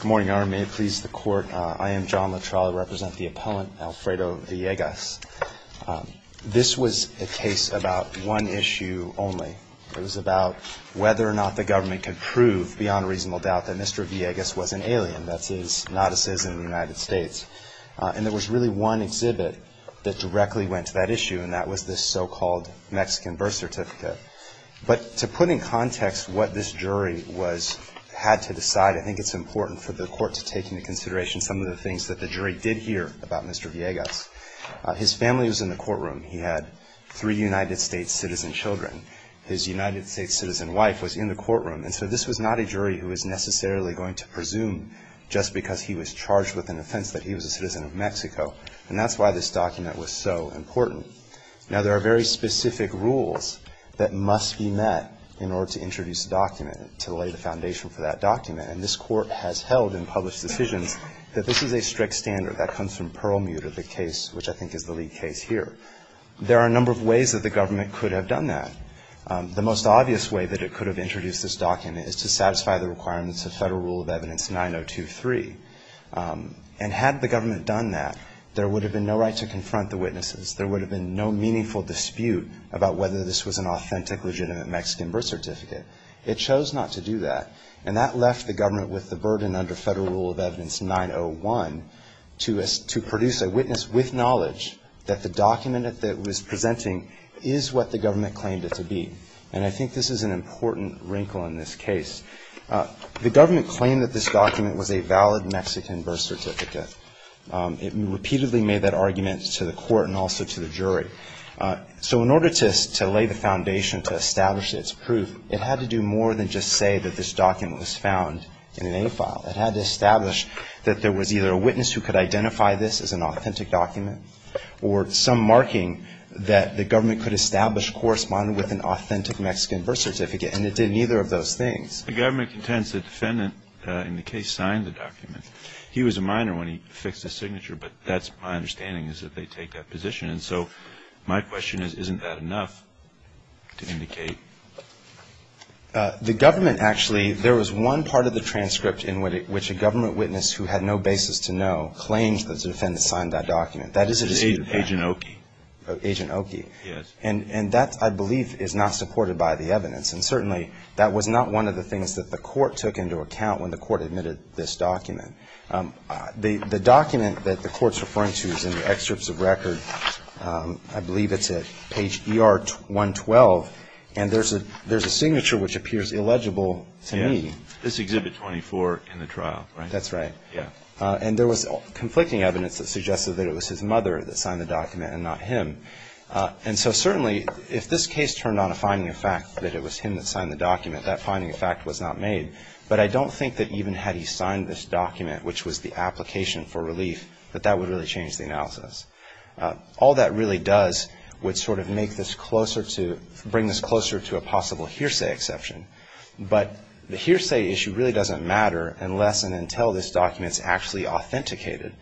Good morning, Your Honor. May it please the Court, I am John La Trolla. I represent the appellant Alfredo Villegas. This was a case about one issue only. It was about whether or not the government could prove beyond reasonable doubt that Mr. Villegas was an alien, that is, not a citizen of the United States. And there was really one exhibit that directly went to that issue, and that was this so-called Mexican birth certificate. But to put in context what this jury had to decide, I think it's important for the Court to take into consideration some of the things that the jury did hear about Mr. Villegas. His family was in the courtroom. He had three United States citizen children. His United States citizen wife was in the courtroom. And so this was not a jury who was necessarily going to presume just because he was charged with an offense that he was a citizen of Mexico. And that's why this document was so important. Now, there are very specific rules that must be met in order to introduce a document, to lay the foundation for that document. And this Court has held in published decisions that this is a strict standard. That comes from Perlmuter, the case which I think is the lead case here. There are a number of ways that the government could have done that. The most obvious way that it could have introduced this document is to satisfy the requirements of Federal Rule of Evidence 9023. And had the government done that, there would have been no right to confront the witnesses. There would have been no meaningful dispute about whether this was an authentic, legitimate Mexican birth certificate. It chose not to do that. And that left the government with the burden under Federal Rule of Evidence 901 to produce a witness with knowledge that the document that it was presenting is what the government claimed it to be. And I think this is an important wrinkle in this case. The government claimed that this document was a valid Mexican birth certificate. It repeatedly made that argument to the Court and also to the jury. So in order to lay the foundation, to establish its proof, it had to do more than just say that this document was found in an A file. It had to establish that there was either a witness who could identify this as an authentic document or some marking that the government could establish corresponding with an authentic Mexican birth certificate. And it did neither of those things. The government contends the defendant in the case signed the document. He was a minor when he fixed his signature, but that's my understanding is that they take that position. And so my question is, isn't that enough to indicate? The government actually, there was one part of the transcript in which a government witness who had no basis to know claimed that the defendant signed that document. That is a dispute. Agent Oki. Agent Oki. Yes. And that, I believe, is not supported by the evidence. And certainly, that was not one of the things that the court took into account when the court admitted this document. The document that the court's referring to is in the excerpts of record. I believe it's at page ER 112. And there's a signature which appears illegible to me. This is Exhibit 24 in the trial, right? That's right. Yes. And there was conflicting evidence that suggested that it was his mother that signed the document and not him. And so certainly, if this case turned on a finding of fact that it was him that signed the document, that finding of fact was not made. But I don't think that even had he signed this document, which was the application for relief, that that would really change the analysis. All that really does would sort of make this closer to, bring this closer to a possible hearsay exception. But the hearsay issue really doesn't matter unless and until this document is actually authenticated.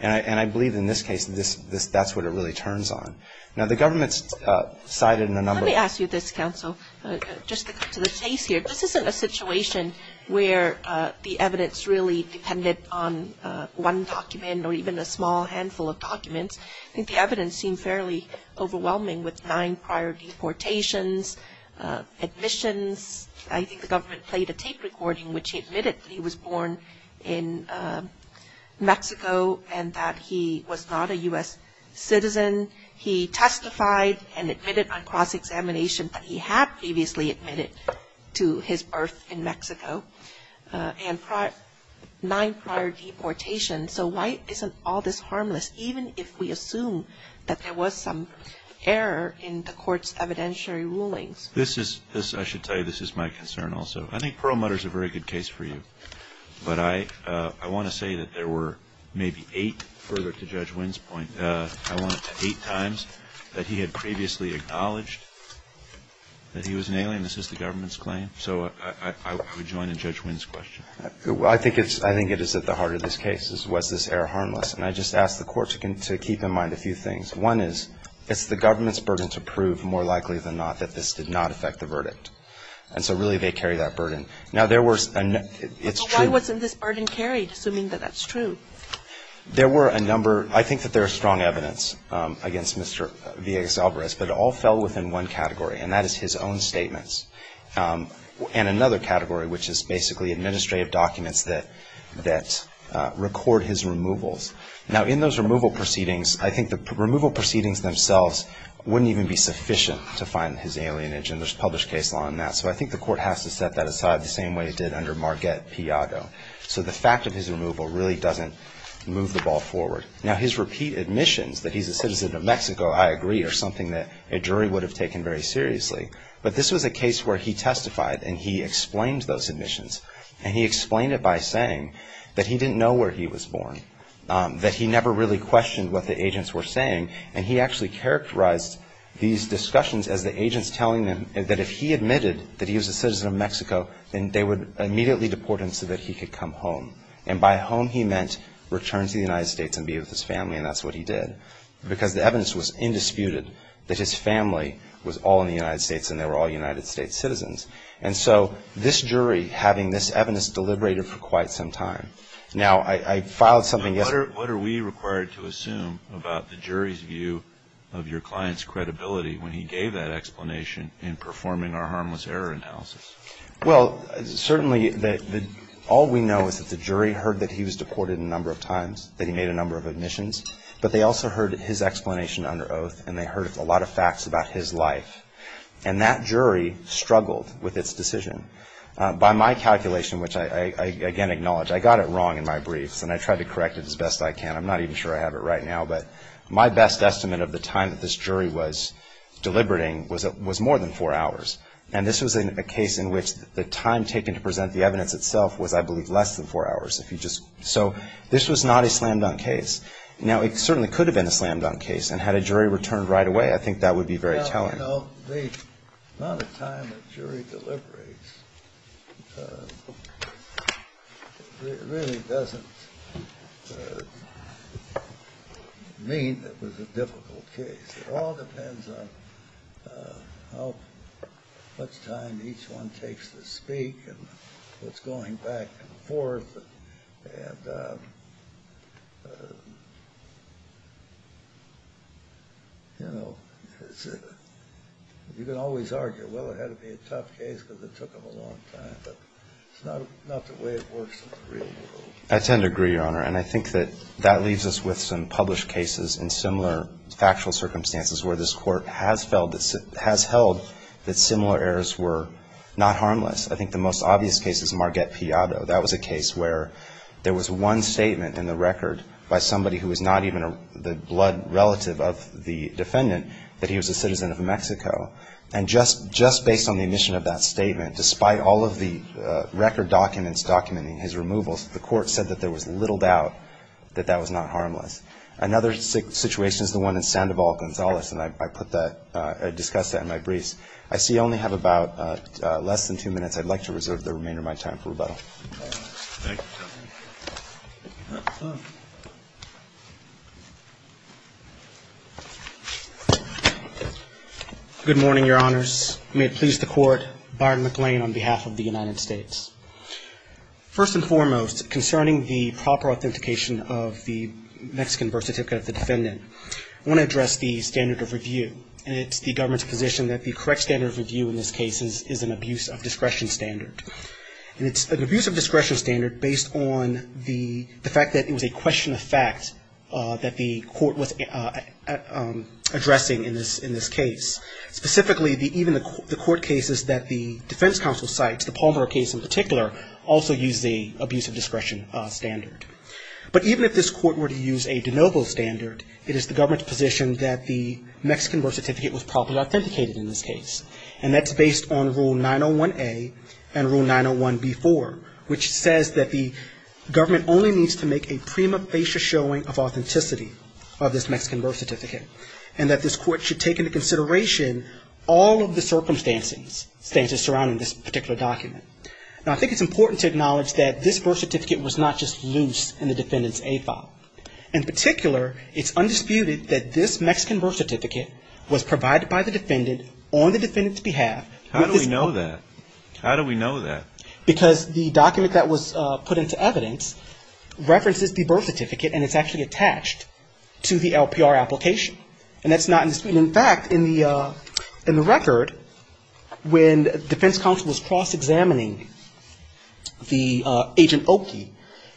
And I believe in this case, this, that's what it really turns on. Now, the government's cited in a number of I'm going to ask you this, Counsel, just to cut to the chase here. This isn't a situation where the evidence really depended on one document or even a small handful of documents. I think the evidence seemed fairly overwhelming with nine prior deportations, admissions. I think the government played a tape recording which admitted that he was born in Mexico and that he was not a U.S. citizen. He testified and admitted on cross-examination that he had previously admitted to his birth in Mexico. And nine prior deportations. So why isn't all this harmless, even if we assume that there was some error in the court's evidentiary rulings? This is, I should tell you, this is my concern also. I think Perlmutter's a very good case for you. But I want to say that there were maybe eight, further to Judge Wynn's point, I want to say eight times that he had previously acknowledged that he was an alien. This is the government's claim. So I would join in Judge Wynn's question. I think it is at the heart of this case, was this error harmless? And I just ask the court to keep in mind a few things. One is, it's the government's burden to prove, more likely than not, that this did not affect the verdict. And so really they carry that burden. Now, there was, it's true. So why wasn't this burden carried, assuming that that's true? There were a number, I think that there is strong evidence against Mr. Villegas-Alvarez. But it all fell within one category, and that is his own statements. And another category, which is basically administrative documents that record his removals. Now, in those removal proceedings, I think the removal proceedings themselves wouldn't even be sufficient to find his alienage. And there's published case law on that. So I think the court has to set that aside the same way it did under Marguerite Piago. So the fact of his removal really doesn't move the ball forward. Now, his repeat admissions that he's a citizen of Mexico, I agree, are something that a jury would have taken very seriously. But this was a case where he testified and he explained those admissions. And he explained it by saying that he didn't know where he was born, that he never really questioned what the agents were saying. And he actually characterized these discussions as the agents telling him that if he admitted that he was a citizen of Mexico, then they would immediately deport him so that he could come home. And by home, he meant return to the United States and be with his family, and that's what he did. Because the evidence was indisputed that his family was all in the United States and they were all United States citizens. And so this jury, having this evidence, deliberated for quite some time. Now, I filed something else. What are we required to assume about the jury's view of your client's credibility when he gave that explanation in performing our harmless error analysis? Well, certainly all we know is that the jury heard that he was deported a number of times, that he made a number of admissions. But they also heard his explanation under oath and they heard a lot of facts about his life. And that jury struggled with its decision. By my calculation, which I again acknowledge, I got it wrong in my briefs and I tried to do the best I can. I'm not even sure I have it right now. But my best estimate of the time that this jury was deliberating was more than four hours. And this was a case in which the time taken to present the evidence itself was, I believe, less than four hours. So this was not a slam-dunk case. Now, it certainly could have been a slam-dunk case. And had a jury returned right away, I think that would be very telling. You know, the amount of time a jury deliberates really doesn't mean that it was a difficult case. It all depends on how much time each one takes to speak and what's going back and forth. I tend to agree, Your Honor. And I think that that leaves us with some published cases in similar factual circumstances where this Court has held that similar errors were not harmless. I think the most obvious case is Marget Piatto. That was a case where there was one statement in the record by somebody who was not even the blood relative of the case. And the court said that there was little doubt that that was not harmless. Another situation is the one in Sandoval-Gonzalez. And I put that – discuss that in my briefs. I see you only have about less than two minutes. I'd like to reserve the remainder of my time for rebuttal. Good morning, Your Honors. May it please the Court, Byron McLean on behalf of the United States. First and foremost, concerning the proper authentication of the Mexican birth certificate of the defendant, I want to address the standard of review. And it's the government's position that the correct standard of review in this case is an abuse of discretion standard. And it's an abuse of discretion standard based on the fact that it was a question of fact that the court was addressing in this case. Specifically, even the court cases that the defense counsel cites, the Palmer case in particular, also use the abuse of discretion standard. But even if this court were to use a de novo standard, it is the government's position that the Mexican birth certificate was properly authenticated in this case. And that's based on Rule 901A and Rule 901B4, which says that the government only needs to make a prima facie showing of authenticity of this Mexican birth certificate. And that this court should take into consideration all of the circumstances surrounding this particular document. Now, I think it's important to acknowledge that this birth certificate was not just loose in the defendant's A file. In particular, it's undisputed that this Mexican birth certificate was provided by the defendant on the defendant's behalf. How do we know that? How do we know that? Because the document that was put into evidence references the birth certificate and it's actually attached to the LPR application. And that's not in the suit. In fact, in the record, when defense counsel was cross-examining the Agent Oki,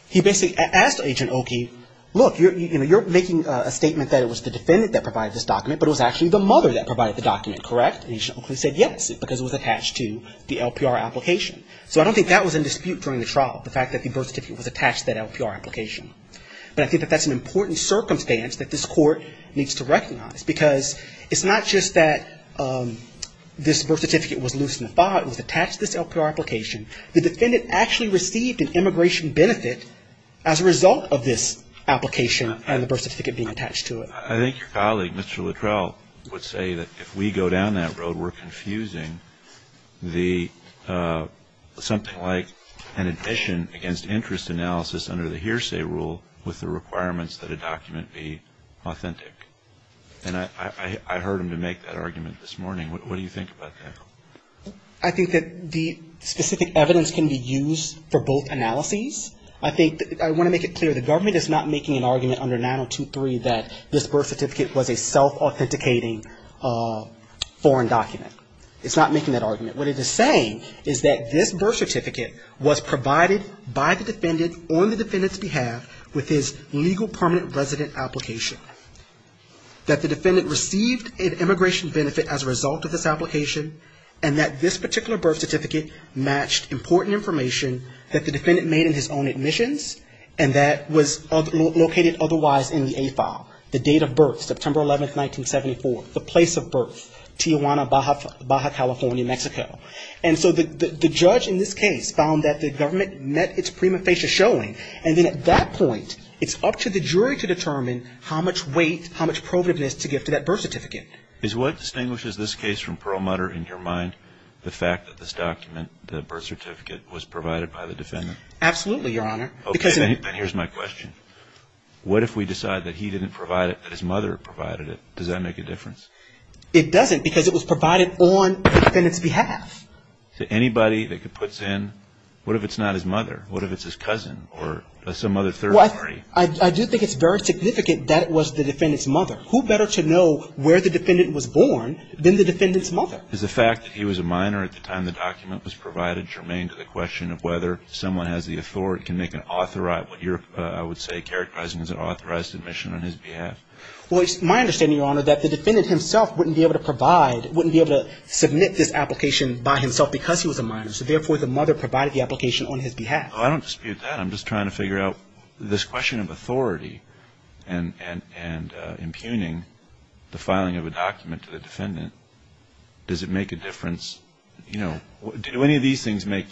he basically asked Agent Oki, look, you're making a statement that it was the defendant that provided this document, but it was actually the mother that provided the document, correct? And Agent Oki said yes, because it was attached to the LPR application. So I don't think that was in dispute during the trial, the fact that the birth certificate was attached to that LPR application. But I think that that's an important circumstance that this court needs to recognize. Because it's not just that this birth certificate was loose in the file. It was attached to this LPR application. The defendant actually received an immigration benefit as a result of this application and the birth certificate being attached to it. I think your colleague, Mr. Luttrell, would say that if we go down that road, we're confusing the, something like an addition against interest analysis under the hearsay rule with the requirements that a document be authentic. And I heard him make that argument this morning. What do you think about that? I think that the specific evidence can be used for both analyses. I think, I want to make it clear, the government is not making an argument under 9023 that this birth certificate was a self-authenticating foreign document. It's not making that argument. What it is saying is that this birth certificate was provided by the defendant on the defendant's behalf with his legal permanent resident application, that the defendant received an immigration benefit as a result of this application, and that this particular birth certificate matched important information that the defendant made in his own admissions, and that was located otherwise in the A file, the date of birth, September 11, 1974, the place of birth, Tijuana, Baja, California, Mexico. And so the judge in this case found that the government met its prima facie showing, and then at that point, it's up to the jury to determine how much weight, how much provativeness to give to that birth certificate. Is what distinguishes this case from Perlmutter in your mind, the fact that this document, the birth certificate, was provided by the defendant? Absolutely, Your Honor. Okay, then here's my question. What if we decide that he didn't provide it, that his mother provided it? Does that make a difference? It doesn't because it was provided on the defendant's behalf. So anybody that puts in, what if it's not his mother? What if it's his cousin or some other third party? I do think it's very significant that it was the defendant's mother. Who better to know where the defendant was born than the defendant's mother? Is the fact that he was a minor at the time the document was provided germane to the question of whether someone has the authority, can make an authorized, what you're, I would say, characterizing as an authorized admission on his behalf? Well, it's my understanding, Your Honor, that the defendant himself wouldn't be able to provide, wouldn't be able to submit this application by himself because he was a minor. So therefore, the mother provided the application on his behalf. Well, I don't dispute that. I'm just trying to figure out this question of authority and impugning the filing of a document to the defendant. Does it make a difference? You know, do any of these things make?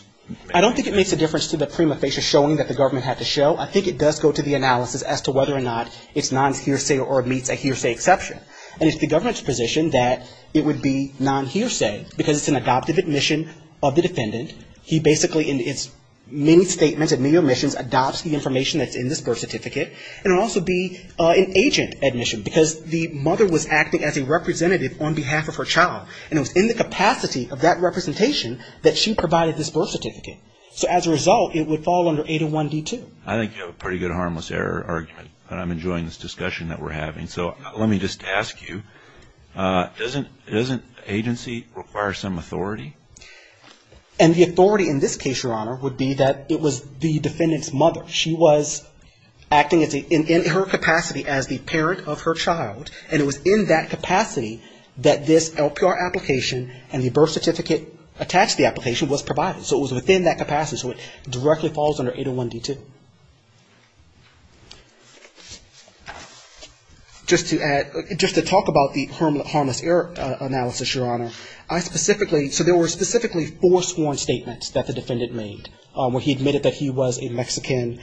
I don't think it makes a difference to the prima facie showing that the government had to show. I think it does go to the analysis as to whether or not it's non-hearsay or meets a hearsay exception. And it's the government's position that it would be non-hearsay because it's an adoptive admission of the defendant. He basically, in its many statements and many omissions, adopts the information that's in this birth certificate. And it would also be an agent admission because the mother was acting as a representative on behalf of her child. And it was in the capacity of that representation that she provided this birth certificate. So as a result, it would fall under 801D2. I think you have a pretty good harmless error argument, but I'm enjoying this discussion that we're having. So let me just ask you, doesn't agency require some authority? And the authority in this case, Your Honor, would be that it was the defendant's mother. She was acting in her capacity as the parent of her child. And it was in that capacity that this LPR application and the birth certificate attached to the application was provided. So it was within that capacity. So it directly falls under 801D2. Just to add, just to talk about the harmless error analysis, Your Honor. I specifically, so there were specifically four sworn statements that the defendant made where he admitted that he was a Mexican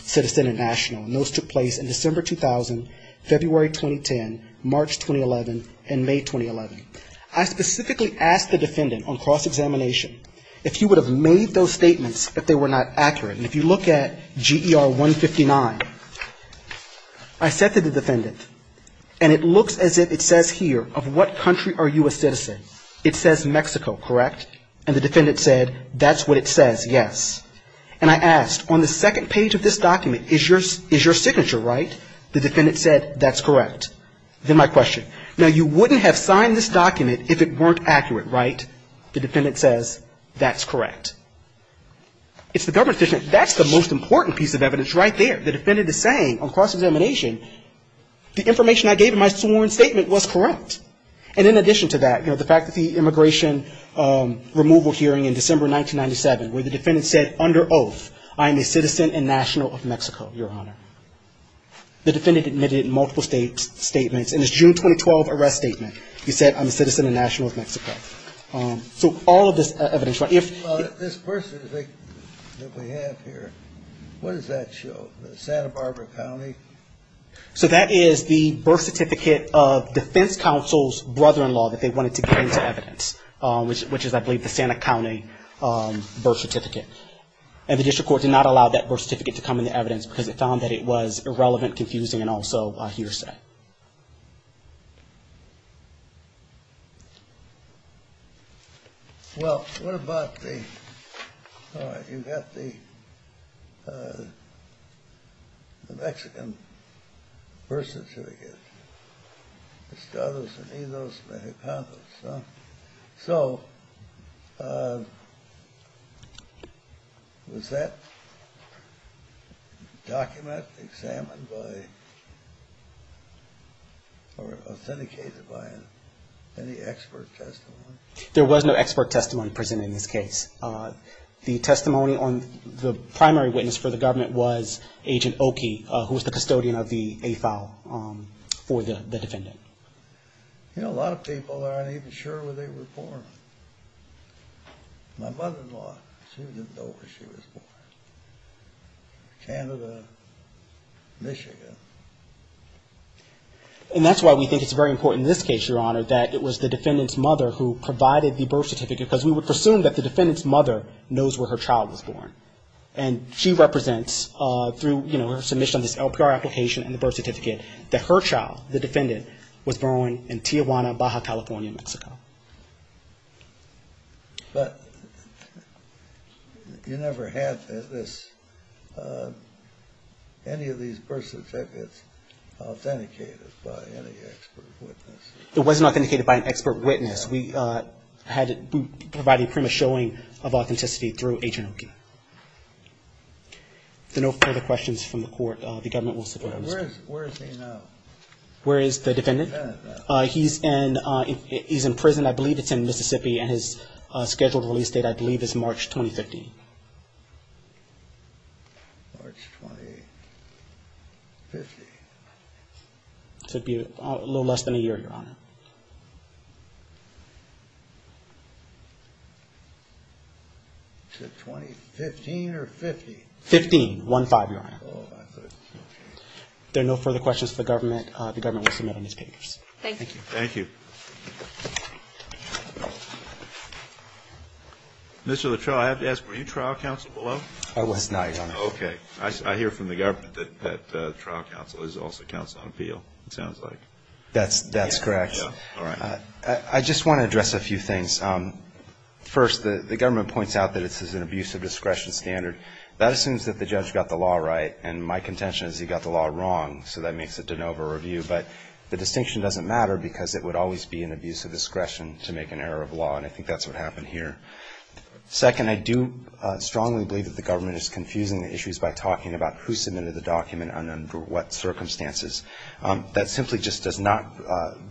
citizen and national. And those took place in December 2000, February 2010, March 2011, and May 2011. I specifically asked the defendant on cross-examination if he would have made those statements if they were not accurate. And if you look at GER 159, I said to the defendant, and it looks as if it says here, of what country are you a citizen? It says Mexico, correct? And the defendant said, that's what it says, yes. And I asked, on the second page of this document, is your signature right? The defendant said, that's correct. Then my question, now, you wouldn't have signed this document if it weren't accurate, right? The defendant says, that's correct. It's the government's decision. That's the most important piece of evidence right there. The defendant is saying on cross-examination, the information I gave in my sworn statement was correct. And in addition to that, the fact that the immigration removal hearing in December 1997, where the defendant said, under oath, I am a citizen and national of Mexico, your honor. The defendant admitted multiple statements. And his June 2012 arrest statement, he said, I'm a citizen and national of Mexico. So all of this evidence, right? Well, this birth certificate that we have here, what does that show? Santa Barbara County? So that is the birth certificate of defense counsel's brother-in-law that they wanted to get into evidence, which is, I believe, the Santa County birth certificate. And the district court did not allow that birth certificate to come in the evidence because it found that it was irrelevant, confusing, and also a hearsay. Well, what about the, all right, you got the Mexican birth certificate. Estados Unidos or authenticated by any expert testimony? There was no expert testimony presented in this case. The testimony on the primary witness for the government was Agent Oki, who was the custodian of the AFAL for the defendant. You know, a lot of people aren't even sure where they were born. My mother-in-law, she was born in Tijuana, Baja California, Mexico. And that's why we think it's very important in this case, Your Honor, that it was the defendant's mother who provided the birth certificate, because we would presume that the defendant's mother knows where her child was born. And she represents, through, you know, her submission on this LPR application and the birth certificate, that her child, the defendant, was born in Tijuana, Baja California, Mexico. But you never have this, any of these birth certificates authenticated by any expert witness. It wasn't authenticated by an expert witness. We had, we provided pretty much a showing of authenticity through Agent Oki. If there are no further questions from the court, the government will support them. Where is he now? Where is the defendant? The defendant. He's in, he's in prison. I believe it's in Mississippi, and his scheduled release date, I believe, is March 2015. March 2015. So it'd be a little less than a year, Your Honor. Is it 2015 or 15? 15, 1-5, Your Honor. Oh, I thought it was 15. If there are no further questions from the government, the government will submit on these papers. Thank you. Thank you. Mr. Latrell, I have to ask, were you trial counsel below? I was not, Your Honor. Okay. I hear from the government that trial counsel is also counsel on appeal, it sounds like. That's correct. All right. I just want to address a few things. First, the government points out that this is an abusive discretion standard. That assumes that the judge got the law right, and my contention is he got the law wrong, so that makes it de novo review. But the distinction doesn't matter, because it would always be an abusive discretion to make an error of law, and I think that's what happened here. Second, I do strongly believe that the government is confusing the issues by talking about who submitted the document and under what circumstances. That simply just does not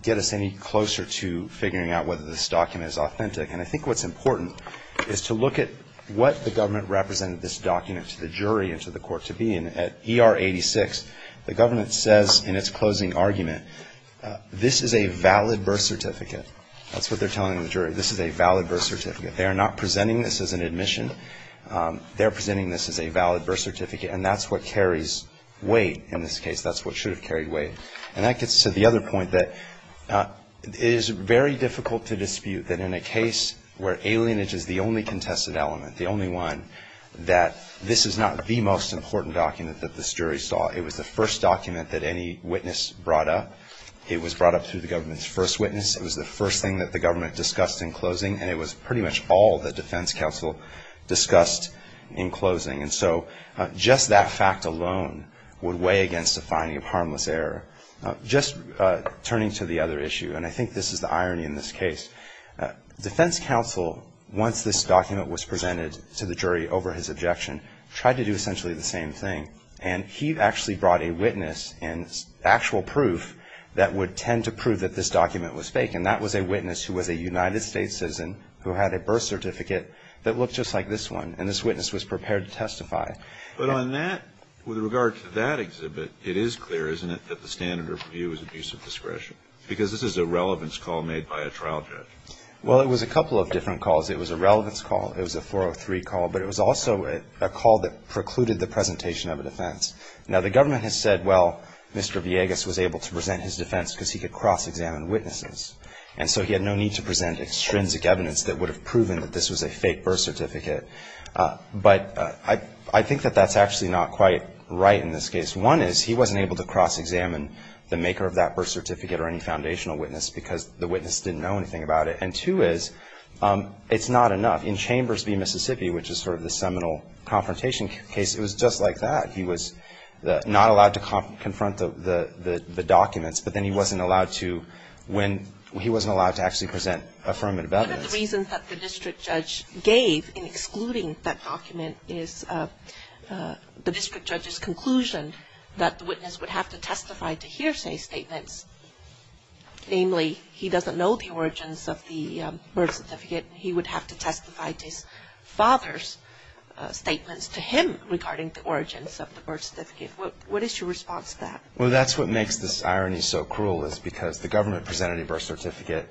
get us any closer to figuring out whether this document is authentic. And I think what's important is to look at what the government represented this document to the jury and to the court to be. And at ER 86, the government says in its closing argument, this is a valid birth certificate. That's what they're telling the jury. This is a valid birth certificate. They are not presenting this as an admission. They're presenting this as a valid birth certificate, and that's what carries weight in this case. That's what should have carried weight. And that gets to the other point that it is very difficult to dispute that in a case where alienage is the only contested element, the only one, that this is not the most important document that this jury saw. It was the first document that any witness brought up. It was brought up through the government's first witness. It was the first thing that the government discussed in closing, and it was pretty much all that defense counsel discussed in closing. And so just that fact alone would weigh against a finding of harmless error. Just turning to the other issue, and I think this is the irony in this case, defense counsel, once this document was presented to the jury over his objection, tried to do essentially the same thing. And he actually brought a witness and actual proof that would tend to prove that this document was fake, and that was a witness who was a United States citizen who had a birth certificate that looked just like this one, and this witness was prepared to testify. But on that, with regard to that exhibit, it is clear, isn't it, that the standard of review is abuse of discretion? Because this is a relevance call made by a trial judge. Well, it was a couple of different calls. It was a relevance call. It was a 403 call. But it was also a call that precluded the presentation of a defense. Now, the government has said, well, Mr. Villegas was able to present his defense because he could cross-examine witnesses. And so he had no need to present extrinsic evidence that would have proven that this was a fake birth certificate. But I think that that's actually not quite right in this case. One is he wasn't able to cross-examine the maker of that birth certificate or any And two is it's not enough. In Chambers v. Mississippi, which is sort of the seminal confrontation case, it was just like that. He was not allowed to confront the documents, but then he wasn't allowed to when he wasn't allowed to actually present affirmative evidence. One of the reasons that the district judge gave in excluding that document is the birth certificate, he would have to testify to his father's statements to him regarding the origins of the birth certificate. What is your response to that? Well, that's what makes this irony so cruel is because the government presented a birth certificate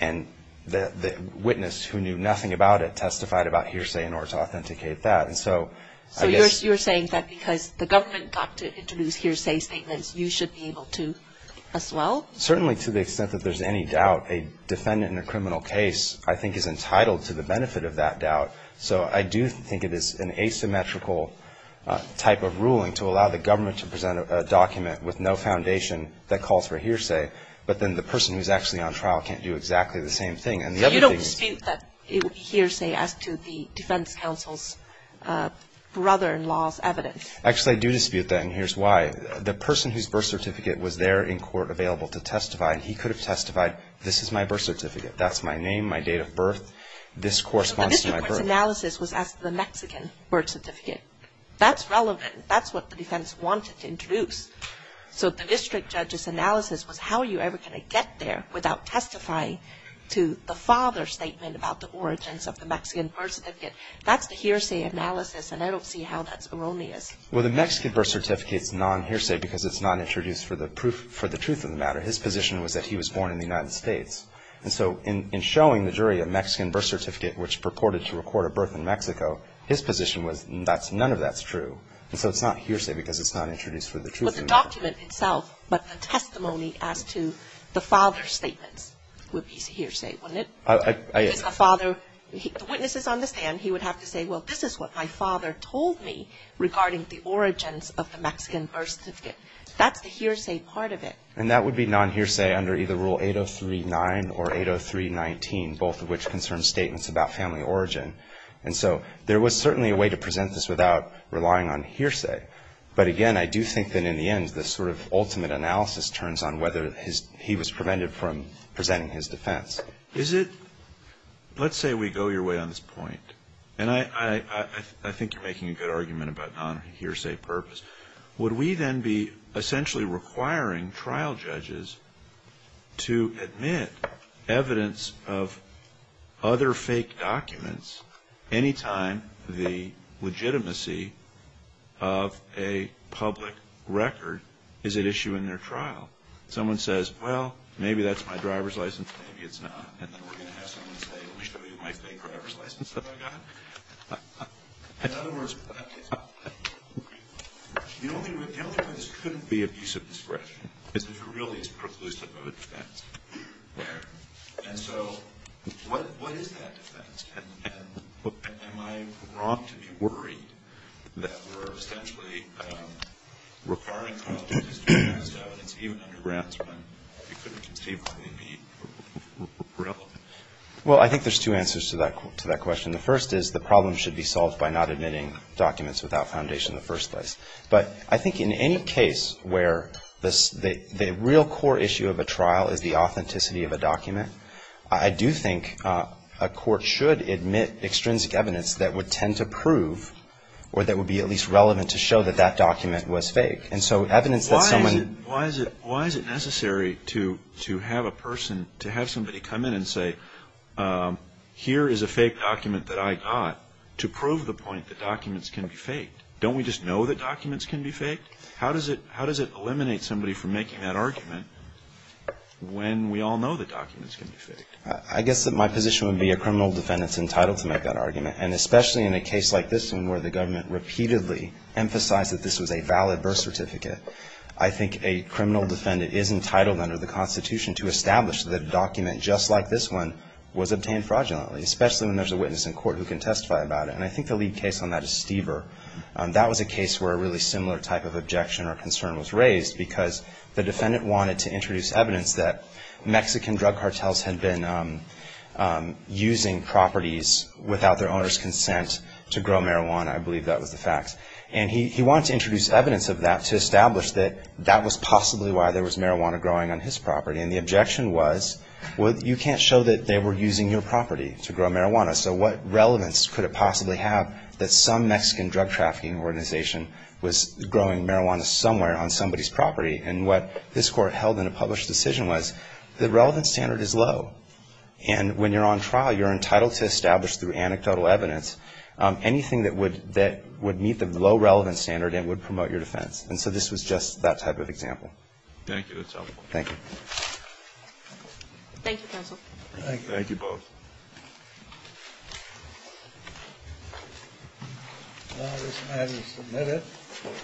and the witness who knew nothing about it testified about hearsay in order to authenticate that. So you're saying that because the government got to introduce hearsay statements, you should be able to as well? Certainly to the extent that there's any doubt. A defendant in a criminal case I think is entitled to the benefit of that doubt. So I do think it is an asymmetrical type of ruling to allow the government to present a document with no foundation that calls for hearsay, but then the person who's actually on trial can't do exactly the same thing. You don't dispute that hearsay as to the defense counsel's brother-in-law's evidence? Actually, I do dispute that, and here's why. The person whose birth certificate was there in court available to testify, he could have testified, this is my birth certificate. That's my name, my date of birth. This corresponds to my birth. So the district court's analysis was as to the Mexican birth certificate. That's relevant. That's what the defense wanted to introduce. So the district judge's analysis was how are you ever going to get there without testifying to the father's statement about the origins of the Mexican birth certificate. That's the hearsay analysis, and I don't see how that's erroneous. Well, the Mexican birth certificate's non-hearsay because it's not introduced for the truth of the matter. His position was that he was born in the United States. And so in showing the jury a Mexican birth certificate which purported to record a birth in Mexico, his position was none of that's true. And so it's not hearsay because it's not introduced for the truth of the matter. Well, the document itself, but the testimony as to the father's statements would be hearsay, wouldn't it? If it's the father, the witnesses on the stand, he would have to say, well, this is what my father told me regarding the origins of the Mexican birth certificate. That's the hearsay part of it. And that would be non-hearsay under either Rule 803.9 or 803.19, both of which concern statements about family origin. And so there was certainly a way to present this without relying on hearsay. But, again, I do think that in the end the sort of ultimate analysis turns on whether he was prevented from presenting his defense. Let's say we go your way on this point. And I think you're making a good argument about non-hearsay purpose. Would we then be essentially requiring trial judges to admit evidence of other fake documents any time the legitimacy of a public record is at issue in their trial? Someone says, well, maybe that's my driver's license, maybe it's not. And then we're going to have someone say, let me show you my fake driver's license that I got. In other words, the only way this couldn't be abuse of discretion is if it really is preclusive of a defense. And so what is that defense? And am I wrong to be worried that we're essentially requiring trial judges to admit evidence of other documents? Well, I think there's two answers to that question. The first is the problem should be solved by not admitting documents without foundation in the first place. But I think in any case where the real core issue of a trial is the authenticity of a document, I do think a court should admit extrinsic evidence that would tend to prove or that would be at least relevant to show that that document was fake. And so evidence that someone Why is it necessary to have a person, to have somebody come in and say, here is a fake document that I got, to prove the point that documents can be faked? Don't we just know that documents can be faked? How does it eliminate somebody from making that argument when we all know that documents can be faked? I guess that my position would be a criminal defendant's entitled to make that argument. And especially in a case like this one where the government repeatedly emphasized that this was a valid birth certificate. I think a criminal defendant is entitled under the Constitution to establish that a document just like this one was obtained fraudulently, especially when there's a witness in court who can testify about it. And I think the lead case on that is Stever. That was a case where a really similar type of objection or concern was raised because the defendant wanted to introduce evidence that Mexican drug cartels had been using properties without their owner's consent to grow marijuana. I believe that was the facts. And he wanted to introduce evidence of that to establish that that was possibly why there was marijuana growing on his property. And the objection was, well, you can't show that they were using your property to grow marijuana, so what relevance could it possibly have that some Mexican drug trafficking organization was growing marijuana somewhere on somebody's property? And what this Court held in a published decision was the relevant standard is low. And when you're on trial, you're entitled to establish through anecdotal evidence anything that would meet the low relevance standard and would promote your defense. And so this was just that type of example. Thank you. That's helpful. Thank you. Thank you, counsel. Thank you. Thank you. Thank you. Okay. Okay. Thank you. Thank you. Thank you. Thank you. Thank you. Thank you.